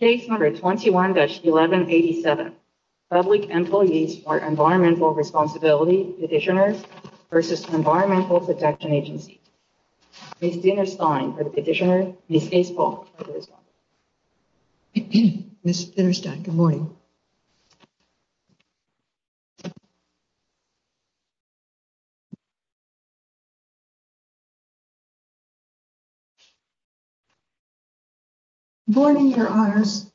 Case number 21-1187, Public Employees for Environmental Responsibility Petitioners v. Environmental Protection Agencies. Ms. Dinnerstine for the petitioner, Ms. Gaspel for the respondent. Ms. Dinnerstine, good morning. Good morning, your honors.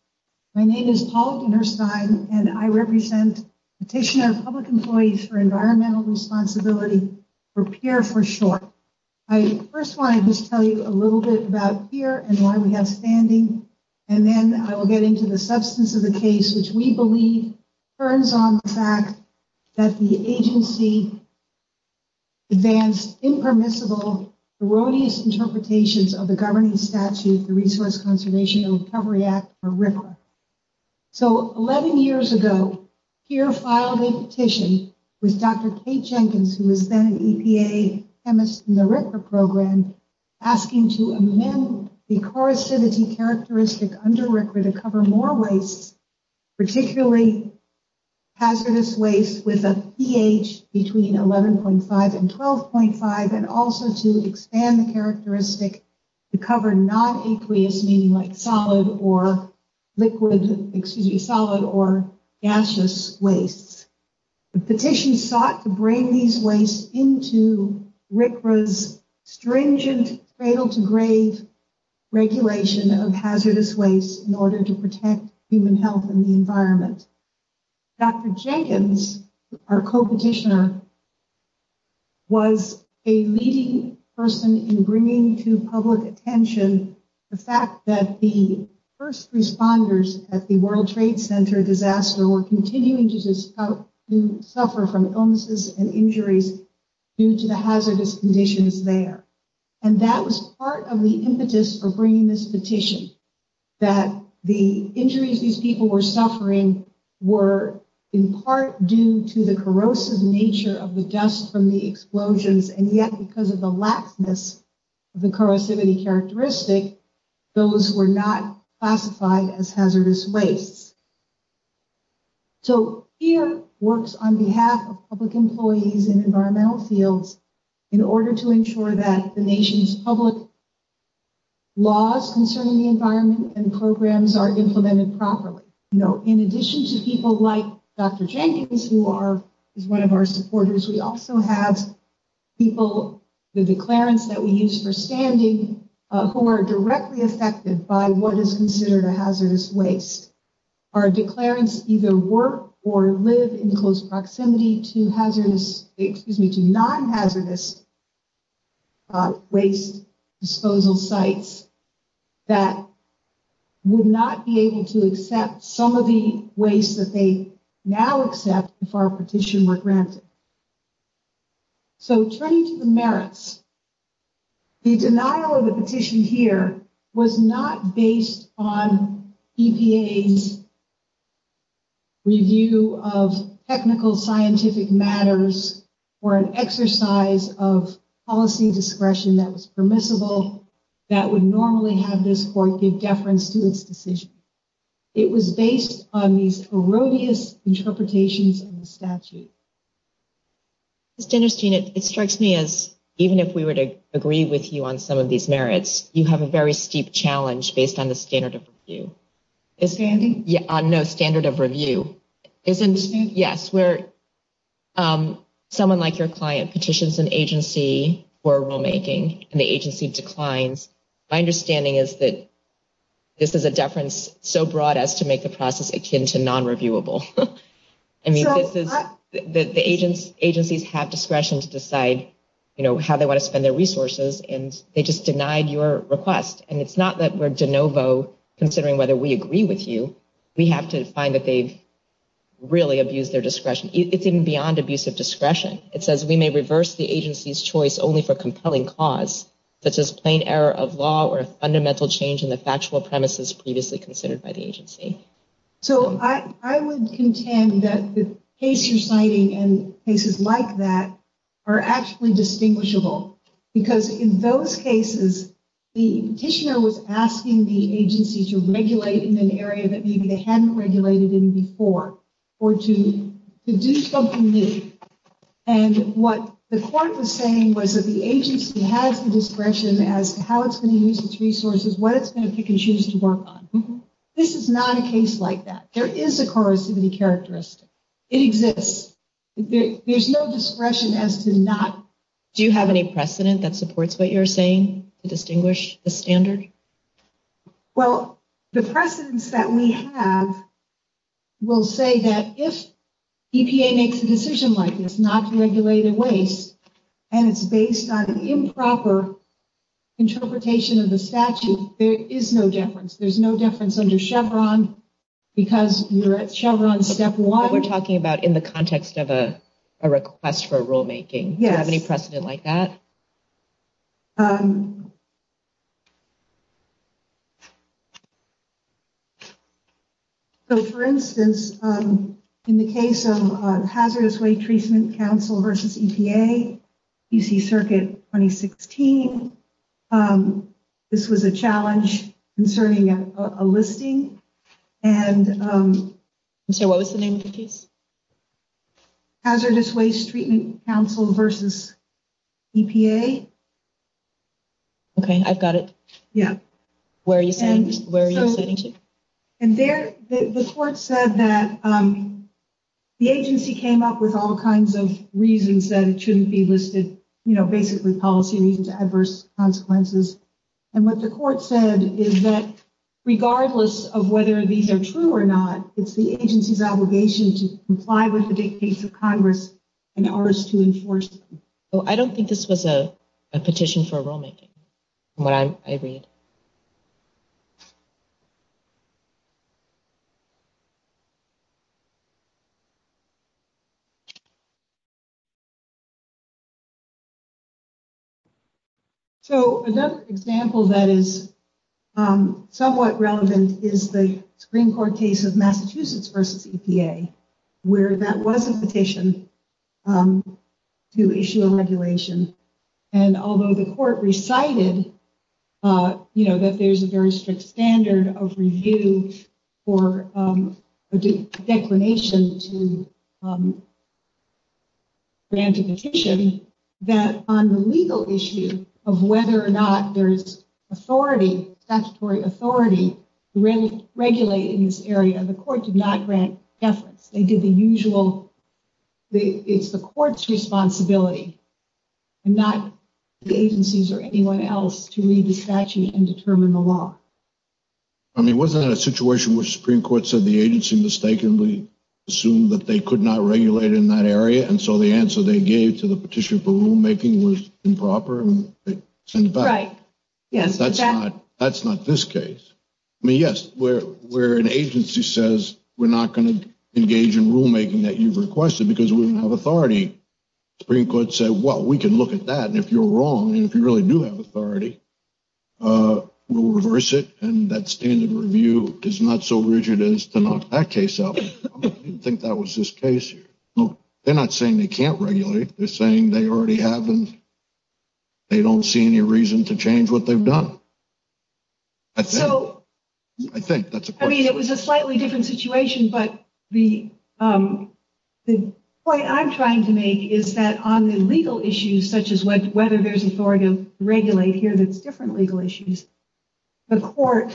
My name is Paul Dinnerstine, and I represent Petitioner of Public Employees for Environmental Responsibility, or PEER for short. I first want to just tell you a little bit about PEER and why we have standing, and then I will get into the substance of the case, which we believe turns on the fact that the agency advanced impermissible erroneous interpretations of the governing statute, the Resource Conservation and Recovery Act, or RCRA. So, 11 years ago, PEER filed a petition with Dr. Kate Jenkins, who was then an EPA chemist in the RCRA program, asking to amend the corrosivity characteristic under RCRA to cover more wastes, particularly hazardous wastes with a pH between 11.5 and 12.5, and also to expand the characteristic to cover non-aqueous, meaning like solid or liquid waste. The petition sought to bring these wastes into RCRA's stringent, cradle-to-grave regulation of hazardous wastes in order to protect human health and the environment. Dr. Jenkins, our co-petitioner, was a leading person in bringing to public attention the fact that the first responders at the World Trade Center disaster were continuing to suffer from illnesses and injuries due to the hazardous conditions there. And that was part of the impetus for bringing this petition, that the injuries these people were suffering were in part due to the corrosive nature of the dust from the explosions, and yet because of the laxness of the corrosivity characteristic, those were not classified as hazardous wastes. So, here works on behalf of public employees in environmental fields in order to ensure that the nation's public laws concerning the environment and programs are implemented properly. In addition to people like Dr. Jenkins, who is one of our supporters, we also have people, the declarants that we use for standing, who are directly affected by what is considered a hazardous waste. Our declarants either work or live in close proximity to non-hazardous waste disposal sites that would not be able to accept some of the waste that they now accept if our petition were granted. So, turning to the merits, the denial of the petition here was not based on EPA's review of technical scientific matters or an exercise of policy discretion that was permissible that would normally have this court give deference to its decision. It was based on these erroneous interpretations of the statute. Ms. Dennerstein, it strikes me as even if we were to agree with you on some of these merits, you have a very steep challenge based on the standard of review. Standing? It's so broad as to make the process akin to non-reviewable. I mean, the agencies have discretion to decide how they want to spend their resources, and they just denied your request. And it's not that we're de novo considering whether we agree with you. We have to find that they've really abused their discretion. It's even beyond abusive discretion. It says, we may reverse the agency's choice only for compelling cause, such as plain error of law or a fundamental change in the factual premises previously considered by the agency. So, I would contend that the case you're citing and cases like that are actually distinguishable. Because in those cases, the petitioner was asking the agency to regulate in an area that maybe they hadn't regulated in before or to do something new. And what the court was saying was that the agency has the discretion as to how it's going to use its resources, what it's going to pick and choose to work on. This is not a case like that. There is a corrosivity characteristic. It exists. There's no discretion as to not. Do you have any precedent that supports what you're saying to distinguish the standard? Well, the precedence that we have will say that if EPA makes a decision like this, not to regulate a waste, and it's based on improper interpretation of the statute, there is no deference. There's no deference under Chevron because you're at Chevron step one. We're talking about in the context of a request for rulemaking. Yes. Do you have any precedent like that? Um. So, for instance, in the case of Hazardous Waste Treatment Council versus EPA, UC Circuit 2016, this was a challenge concerning a listing. And so what was the name of the case? Hazardous Waste Treatment Council versus EPA. Okay, I've got it. Yeah. Where are you saying? And there, the court said that the agency came up with all kinds of reasons that it shouldn't be listed, you know, basically policy reasons, adverse consequences. And what the court said is that regardless of whether these are true or not, it's the agency's obligation to comply with the dictates of Congress and ours to enforce them. Oh, I don't think this was a petition for rulemaking. What I read. Okay. So another example that is somewhat relevant is the Supreme Court case of Massachusetts versus EPA, where that was a petition to issue a regulation. And although the court recited, you know, that there's a very strict standard of review for a declination to grant a petition, that on the legal issue of whether or not there is authority, statutory authority to regulate in this area, the court did not grant deference. They did the usual. It's the court's responsibility and not the agency's or anyone else to read the statute and determine the law. I mean, wasn't that a situation where the Supreme Court said the agency mistakenly assumed that they could not regulate in that area? And so the answer they gave to the petition for rulemaking was improper. Right. Yes. That's not this case. I mean, yes, where an agency says we're not going to engage in rulemaking that you've requested because we don't have authority. Supreme Court said, well, we can look at that. And if you're wrong and if you really do have authority, we'll reverse it. And that standard review is not so rigid as to knock that case out. I didn't think that was this case. They're not saying they can't regulate. They're saying they already have them. They don't see any reason to change what they've done. So, I mean, it was a slightly different situation. But the point I'm trying to make is that on the legal issues, such as whether there's authority to regulate here, that's different legal issues. The court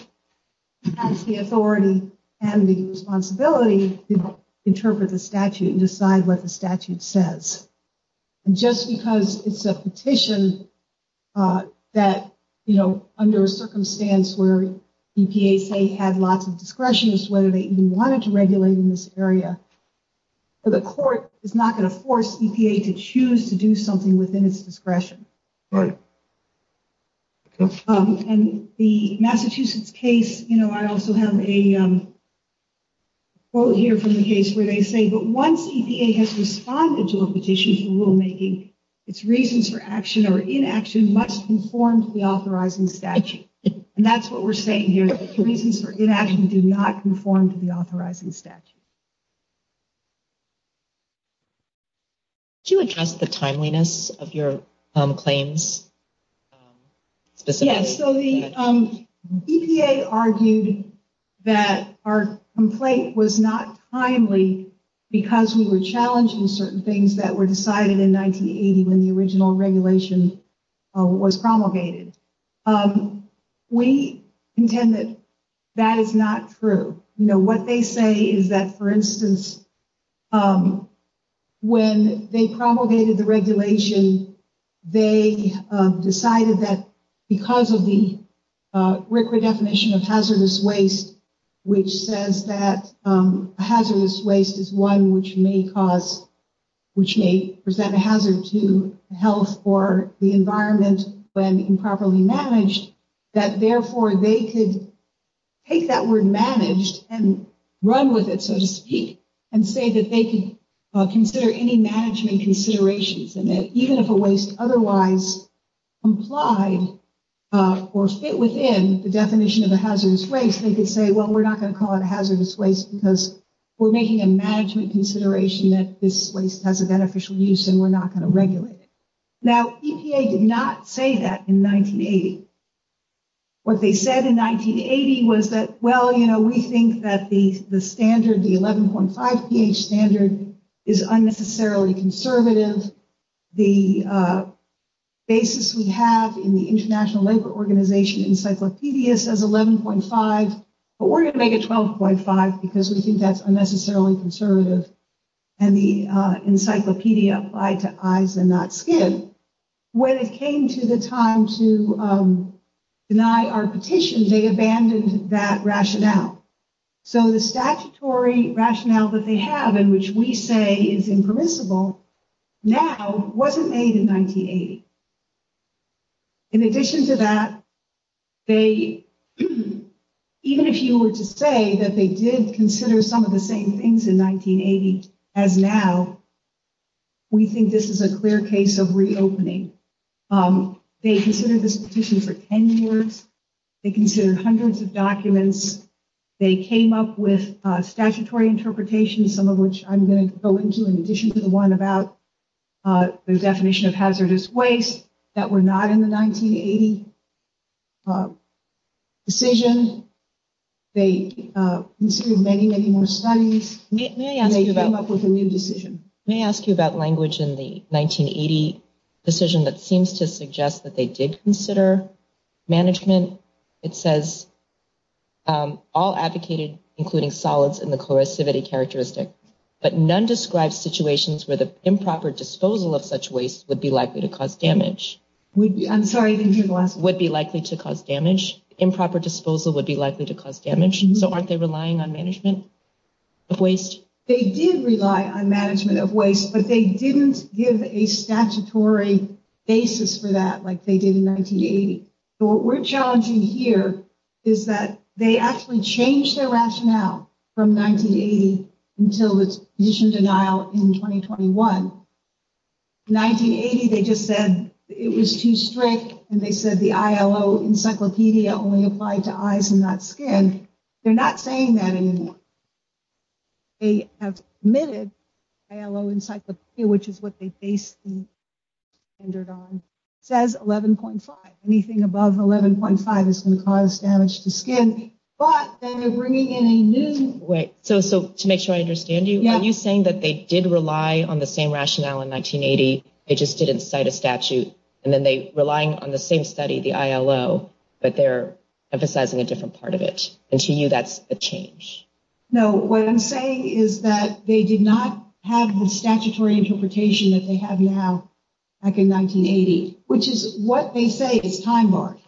has the authority and the responsibility to interpret the statute and decide what the statute says. And just because it's a petition that, you know, under a circumstance where EPA say had lots of discretion as to whether they even wanted to regulate in this area, the court is not going to force EPA to choose to do something within its discretion. Right. And the Massachusetts case, you know, I also have a quote here from the case where they say, but once EPA has responded to a petition for rulemaking, its reasons for action or inaction must conform to the authorizing statute. And that's what we're saying here. Reasons for inaction do not conform to the authorizing statute. Could you address the timeliness of your claims? Yes. So the EPA argued that our complaint was not timely because we were challenged in certain things that were decided in 1980 when the original regulation was promulgated. We intend that that is not true. You know, what they say is that, for instance, when they promulgated the regulation, they decided that because of the definition of hazardous waste, which says that hazardous waste is one which may cause, which may present a hazard to health or the environment when improperly managed, that therefore they could take that word managed and run with it, so to speak, and say that they could consider any management considerations. And that even if a waste otherwise complied or fit within the definition of a hazardous waste, they could say, well, we're not going to call it hazardous waste because we're making a management consideration that this waste has a beneficial use and we're not going to regulate it. Now, EPA did not say that in 1980. What they said in 1980 was that, well, you know, we think that the standard, the 11.5 pH standard is unnecessarily conservative. The basis we have in the International Labor Organization encyclopedias is 11.5, but we're going to make it 12.5 because we think that's unnecessarily conservative. And the encyclopedia applied to eyes and not skin. When it came to the time to deny our petition, they abandoned that rationale. So the statutory rationale that they have in which we say is impermissible now wasn't made in 1980. In addition to that, even if you were to say that they did consider some of the same things in 1980 as now, we think this is a clear case of reopening. They considered this petition for 10 years. They came up with statutory interpretations, some of which I'm going to go into in addition to the one about the definition of hazardous waste that were not in the 1980 decision. They considered many, many more studies. They came up with a new decision. Let me ask you about language in the 1980 decision that seems to suggest that they did consider management. It says, all advocated, including solids and the corrosivity characteristic, but none described situations where the improper disposal of such waste would be likely to cause damage. I'm sorry. Would be likely to cause damage. Improper disposal would be likely to cause damage. So aren't they relying on management of waste? They did rely on management of waste, but they didn't give a statutory basis for that like they did in 1980. So what we're challenging here is that they actually changed their rationale from 1980 until the petition denial in 2021. In 1980, they just said it was too strict, and they said the ILO encyclopedia only applied to eyes and not skin. They're not saying that anymore. They have omitted ILO encyclopedia, which is what they based the standard on. It says 11.5. Anything above 11.5 is going to cause damage to skin. But then they're bringing in a new way. So to make sure I understand you, are you saying that they did rely on the same rationale in 1980, they just didn't cite a statute, and then they're relying on the same study, the ILO, but they're emphasizing a different part of it? And to you, that's a change? No, what I'm saying is that they did not have the statutory interpretation that they have now back in 1980, which is what they say is time-barred.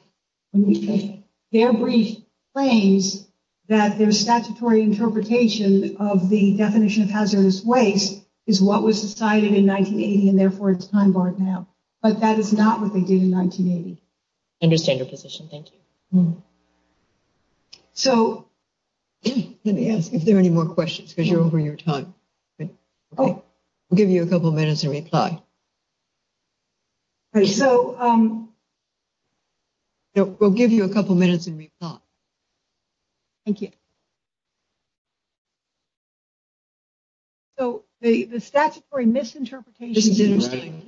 Their brief claims that their statutory interpretation of the definition of hazardous waste is what was decided in 1980, and therefore it's time-barred now. But that is not what they did in 1980. I understand your position. Thank you. Let me ask if there are any more questions, because you're over your time. We'll give you a couple minutes and reply. We'll give you a couple minutes and reply. Thank you. So the statutory misinterpretation is interesting.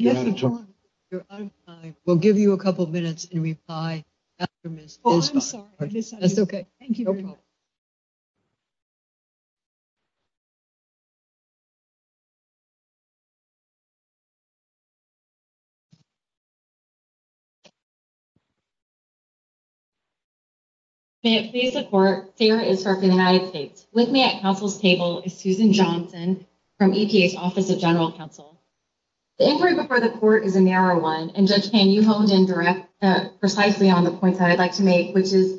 We'll give you a couple minutes and reply. I'm sorry. That's okay. Thank you. No problem. If you could please report, Sarah is serving in the United States. With me at Council's table is Susan Johnson from EPA's Office of General Counsel. The inquiry before the court is a narrow one, and Judge Pan, you honed in precisely on the points that I'd like to make, which is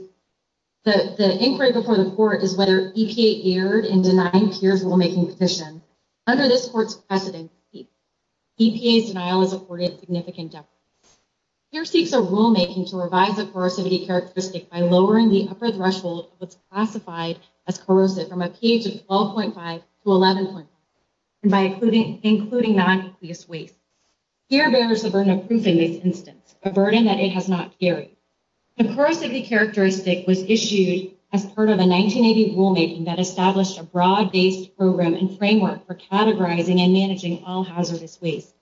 the inquiry before the court is whether EPA erred in denying peers' rulemaking petition. Under this court's precedent, EPA's denial is afforded significant deficits. Peer seeks a rulemaking to revise a corrosivity characteristic by lowering the upper threshold of what's classified as corrosive from a pH of 12.5 to 11.5, and by including non-eucleus waste. Peer bears the burden of proof in this instance, a burden that it has not carried. The corrosivity characteristic was issued as part of a 1980 rulemaking that established a broad-based program and framework for categorizing and managing all hazardous waste.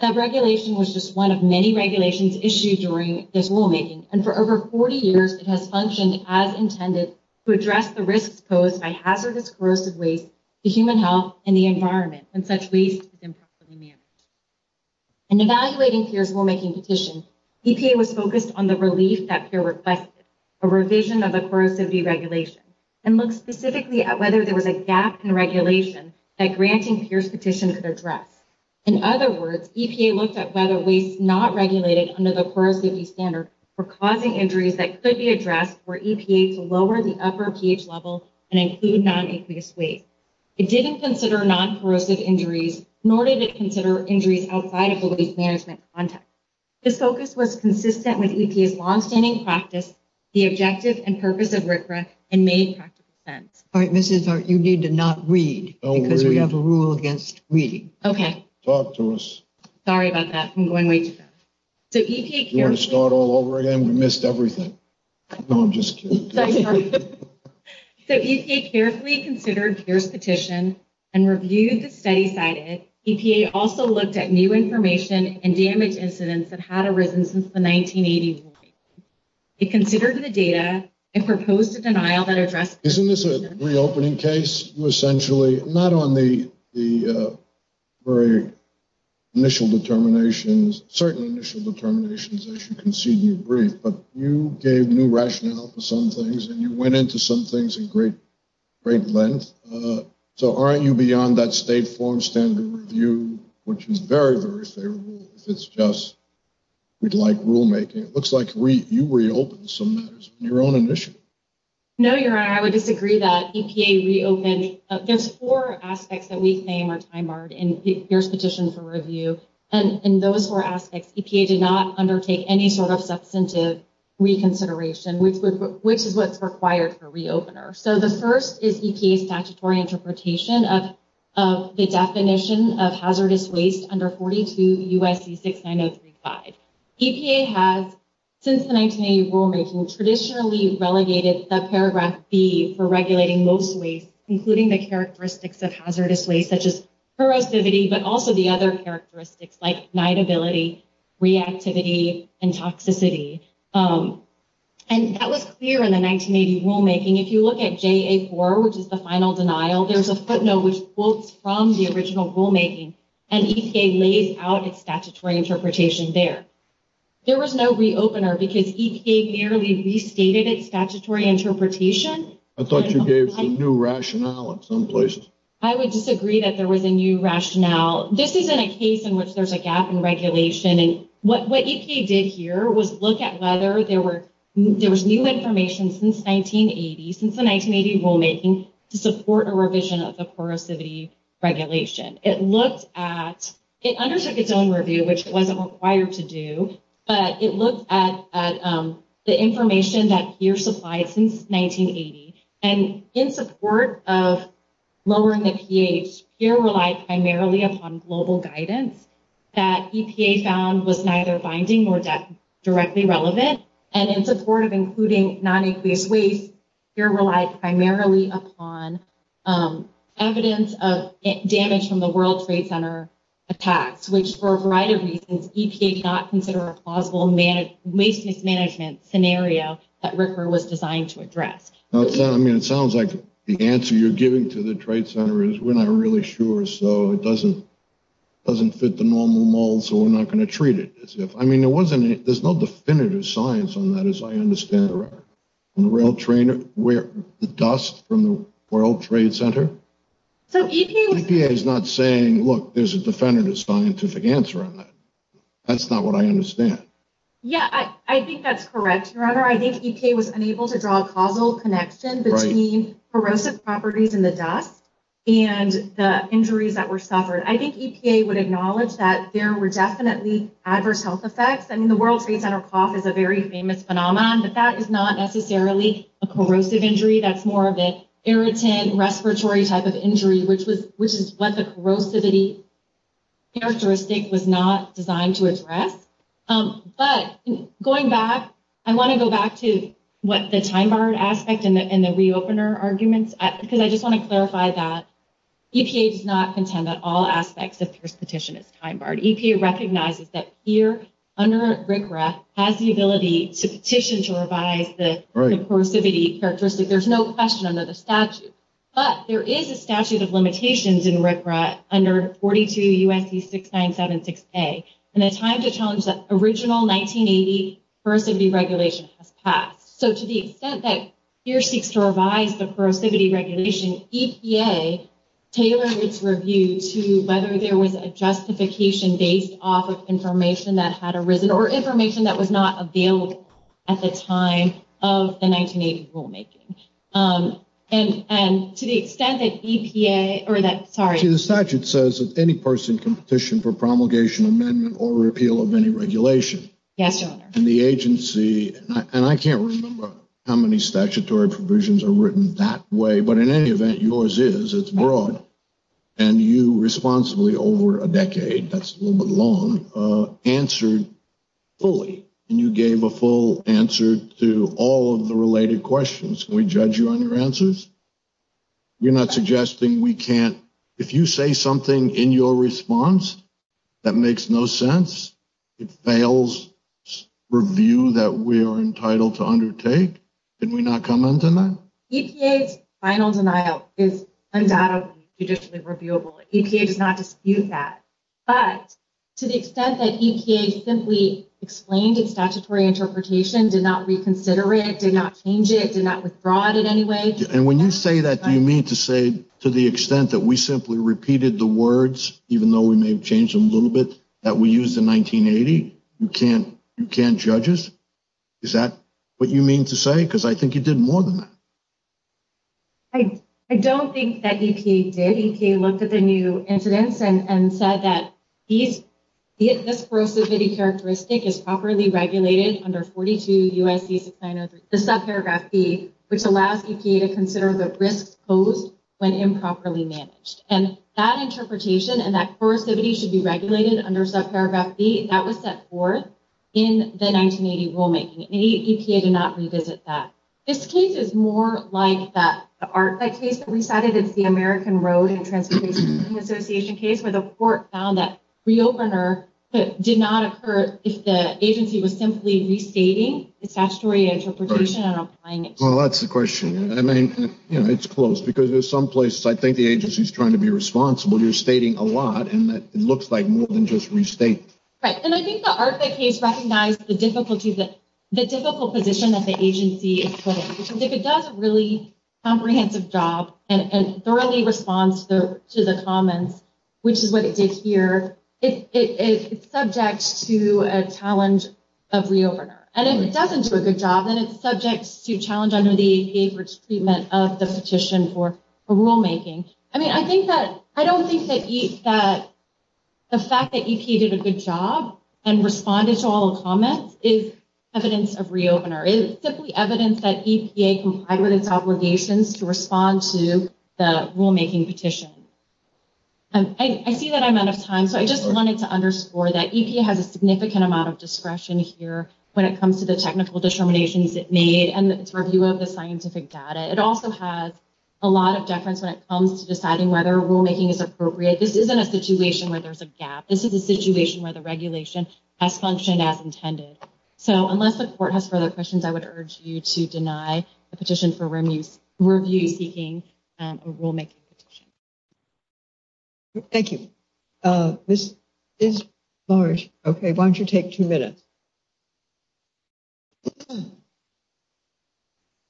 That regulation was just one of many regulations issued during this rulemaking, and for over 40 years, it has functioned as intended to address the risks posed by hazardous corrosive waste to human health and the environment when such waste is improperly managed. In evaluating peers' rulemaking petition, EPA was focused on the relief that peer requested, a revision of the corrosivity regulation, and looked specifically at whether there was a gap in regulation that granting peers' petition could address. In other words, EPA looked at whether waste not regulated under the corrosivity standard for causing injuries that could be addressed were EPA to lower the upper pH level and include non-eucleus waste. It didn't consider non-corrosive injuries, nor did it consider injuries outside of the waste management context. This focus was consistent with EPA's longstanding practice, the objective and purpose of RCRA, and made practical sense. All right, Mrs. Hart, you need to not read because we have a rule against reading. Okay. Talk to us. Sorry about that. I'm going way too fast. Do you want to start all over again? We missed everything. No, I'm just kidding. So EPA carefully considered peers' petition and reviewed the study cited. EPA also looked at new information and damage incidents that had arisen since the 1980s. It considered the data and proposed a denial that addressed… Isn't this a reopening case? Not on the very initial determinations, certain initial determinations, as you conceded in your brief, but you gave new rationale for some things and you went into some things in great length. So aren't you beyond that state form standard review, which is very, very favorable if it's just, we'd like rulemaking. It looks like you reopened some matters in your own initiative. No, Your Honor, I would disagree that EPA reopened. There's four aspects that we claim are time-marred in peers' petition for review. And in those four aspects, EPA did not undertake any sort of substantive reconsideration, which is what's required for a reopener. So the first is EPA's statutory interpretation of the definition of hazardous waste under 42 U.S.C. 69035. EPA has, since the 1980 rulemaking, traditionally relegated the paragraph B for regulating most waste, including the characteristics of hazardous waste, such as corrosivity, but also the other characteristics like ignitability, reactivity, and toxicity. And that was clear in the 1980 rulemaking. If you look at JA4, which is the final denial, there's a footnote which quotes from the original rulemaking, and EPA lays out its statutory interpretation there. There was no reopener because EPA merely restated its statutory interpretation. I thought you gave some new rationale in some places. I would disagree that there was a new rationale. This isn't a case in which there's a gap in regulation. And what EPA did here was look at whether there was new information since 1980, since the 1980 rulemaking, to support a revision of the corrosivity regulation. It looked at—it undertook its own review, which it wasn't required to do, but it looked at the information that PEER supplied since 1980. And in support of lowering the pH, PEER relied primarily upon global guidance that EPA found was neither binding nor directly relevant. And in support of including non-aqueous waste, PEER relied primarily upon evidence of damage from the World Trade Center attacks, which, for a variety of reasons, EPA did not consider a plausible waste mismanagement scenario that RCRA was designed to address. I mean, it sounds like the answer you're giving to the Trade Center is we're not really sure, so it doesn't fit the normal mold, so we're not going to treat it. I mean, there's no definitive science on that, as I understand it. The dust from the World Trade Center? EPA is not saying, look, there's a definitive scientific answer on that. That's not what I understand. Yeah, I think that's correct, Your Honor. I think EPA was unable to draw a causal connection between corrosive properties in the dust and the injuries that were suffered. I think EPA would acknowledge that there were definitely adverse health effects. I mean, the World Trade Center cough is a very famous phenomenon, but that is not necessarily a corrosive injury. That's more of an irritant, respiratory type of injury, which is what the corrosivity characteristic was not designed to address. But going back, I want to go back to what the time-barred aspect and the re-opener arguments, because I just want to clarify that EPA does not contend that all aspects of the first petition is time-barred. EPA recognizes that here, under RCRA, has the ability to petition to revise the corrosivity characteristic. There's no question under the statute. But there is a statute of limitations in RCRA under 42 U.S.C. 6976A, and a time to challenge that original 1980 corrosivity regulation has passed. So to the extent that here seeks to revise the corrosivity regulation, EPA tailored its review to whether there was a justification based off of information that had arisen or information that was not available at the time of the 1980 rulemaking. And to the extent that EPA, or that, sorry. The statute says that any person can petition for promulgation amendment or repeal of any regulation. Yes, Your Honor. And the agency, and I can't remember how many statutory provisions are written that way, but in any event, yours is. It's broad. And you responsibly, over a decade, that's a little bit long, answered fully. And you gave a full answer to all of the related questions. Can we judge you on your answers? You're not suggesting we can't. If you say something in your response that makes no sense, it fails review that we are entitled to undertake, can we not come into that? EPA's final denial is undoubtedly judicially reviewable. EPA does not dispute that. But to the extent that EPA simply explained its statutory interpretation, did not reconsider it, did not change it, did not withdraw it in any way. And when you say that, do you mean to say to the extent that we simply repeated the words, even though we may have changed them a little bit, that we used in 1980? You can't judge us? Is that what you mean to say? Because I think you did more than that. I don't think that EPA did. EPA looked at the new incidents and said that this corrosivity characteristic is properly regulated under 42 UIC 6903, the subparagraph B, which allows EPA to consider the risks posed when improperly managed. And that interpretation and that corrosivity should be regulated under subparagraph B, that was set forth in the 1980 rulemaking. And EPA did not revisit that. This case is more like that ARC-V case that we cited. It's the American Road and Transportation Association case where the court found that re-opener did not occur if the agency was simply restating its statutory interpretation and applying it. Well, that's the question. I mean, it's close, because there's some places I think the agency's trying to be responsible. You're stating a lot, and it looks like more than just restating. Right. And I think the ARC-V case recognized the difficult position that the agency is put in. Because if it does a really comprehensive job and thoroughly responds to the comments, which is what it did here, it's subject to a challenge of re-opener. And if it doesn't do a good job, then it's subject to challenge under the EPA for treatment of the petition for rulemaking. I mean, I don't think that the fact that EPA did a good job and responded to all the comments is evidence of re-opener. It's simply evidence that EPA complied with its obligations to respond to the rulemaking petition. I see that I'm out of time, so I just wanted to underscore that EPA has a significant amount of discretion here when it comes to the technical determinations it made and its review of the scientific data. It also has a lot of deference when it comes to deciding whether rulemaking is appropriate. This isn't a situation where there's a gap. This is a situation where the regulation has functioned as intended. So unless the court has further questions, I would urge you to deny the petition for review seeking a rulemaking petition. Thank you. This is large. Okay, why don't you take two minutes?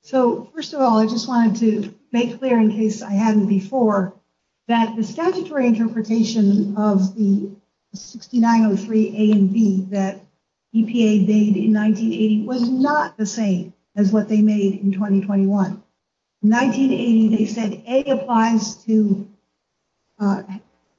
So, first of all, I just wanted to make clear, in case I hadn't before, that the statutory interpretation of the 6903A and B that EPA made in 1980 was not the same as what they made in 2021. In 1980, they said A applies to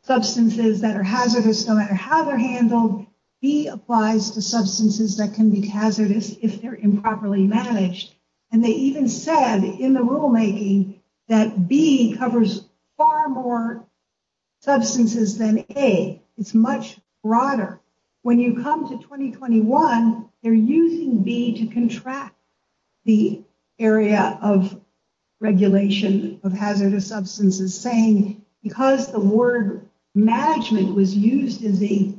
substances that are hazardous no matter how they're handled. B applies to substances that can be hazardous if they're improperly managed. And they even said in the rulemaking that B covers far more substances than A. It's much broader. When you come to 2021, they're using B to contract the area of regulation of hazardous substances, saying because the word management was used in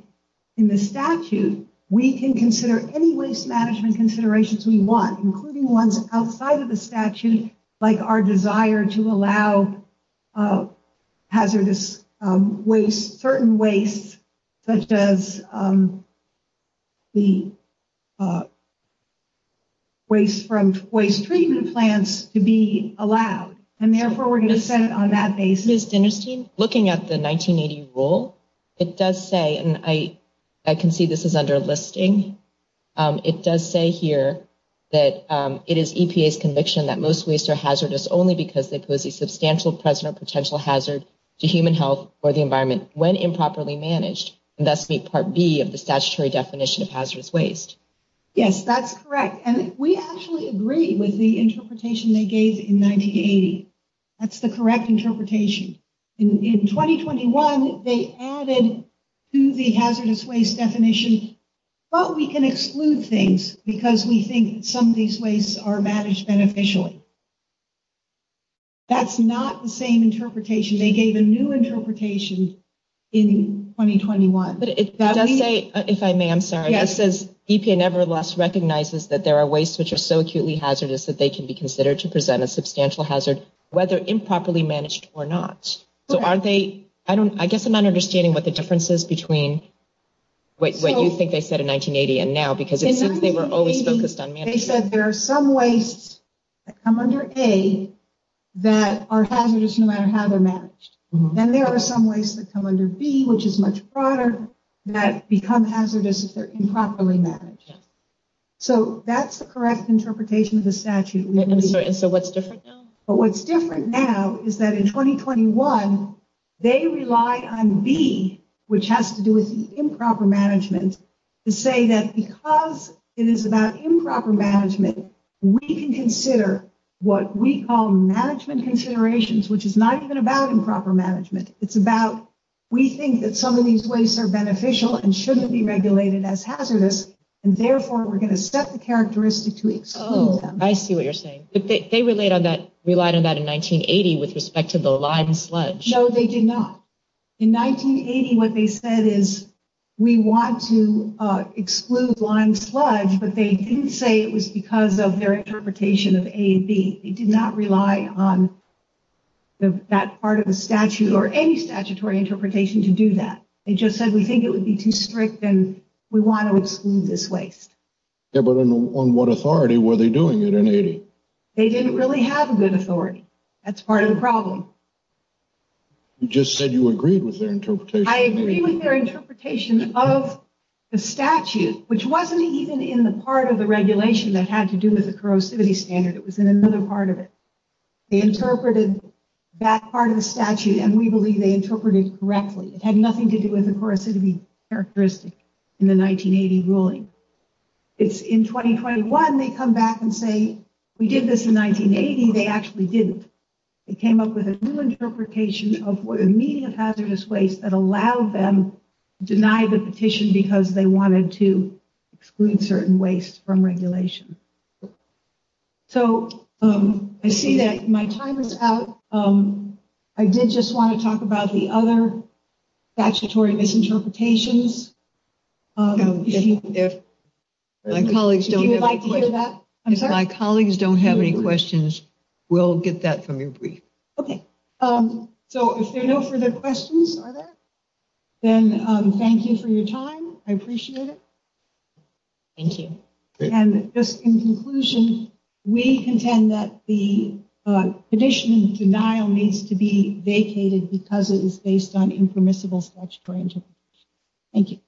the statute, we can consider any waste management considerations we want, including ones outside of the statute, like our desire to allow hazardous waste, certain waste, such as the waste from waste treatment plants, to be allowed. And therefore, we're going to send it on that basis. Ms. Dinnerstein, looking at the 1980 rule, it does say, and I can see this is under listing, it does say here that it is EPA's conviction that most wastes are hazardous only because they pose a substantial present or potential hazard to human health or the environment when improperly managed, and thus meet Part B of the statutory definition of hazardous waste. Yes, that's correct. And we actually agree with the interpretation they gave in 1980. That's the correct interpretation. In 2021, they added to the hazardous waste definition, but we can exclude things because we think some of these wastes are managed beneficially. That's not the same interpretation. They gave a new interpretation in 2021. But it does say, if I may, I'm sorry, it says EPA nevertheless recognizes that there are wastes which are so acutely hazardous that they can be considered to present a substantial hazard, whether improperly managed or not. So are they, I guess I'm not understanding what the difference is between what you think they said in 1980 and now, because it seems they were always focused on management. They said there are some wastes that come under A that are hazardous no matter how they're managed. Then there are some wastes that come under B, which is much broader, that become hazardous if they're improperly managed. So that's the correct interpretation of the statute. I'm sorry, so what's different now? But what's different now is that in 2021, they rely on B, which has to do with improper management, to say that because it is about improper management, we can consider what we call management considerations, which is not even about improper management. It's about, we think that some of these wastes are beneficial and shouldn't be regulated as hazardous, and therefore we're going to set the characteristic to exclude them. I see what you're saying. They relied on that in 1980 with respect to the lime sludge. No, they did not. In 1980, what they said is we want to exclude lime sludge, but they didn't say it was because of their interpretation of A and B. They did not rely on that part of the statute or any statutory interpretation to do that. They just said we think it would be too strict, and we want to exclude this waste. Yeah, but on what authority were they doing it in 1980? They didn't really have a good authority. That's part of the problem. You just said you agreed with their interpretation. I agree with their interpretation of the statute, which wasn't even in the part of the regulation that had to do with the corrosivity standard. It was in another part of it. They interpreted that part of the statute, and we believe they interpreted it correctly. It had nothing to do with the corrosivity characteristic in the 1980 ruling. In 2021, they come back and say we did this in 1980. They actually didn't. They came up with a new interpretation of immediate hazardous waste that allowed them to deny the petition because they wanted to exclude certain waste from regulation. So I see that my time is out. I did just want to talk about the other statutory misinterpretations. If my colleagues don't have any questions, we'll get that from you. Okay. So if there are no further questions, then thank you for your time. I appreciate it. Thank you. And just in conclusion, we contend that the petition in denial needs to be vacated because it is based on impermissible statutory interpretation. Thank you.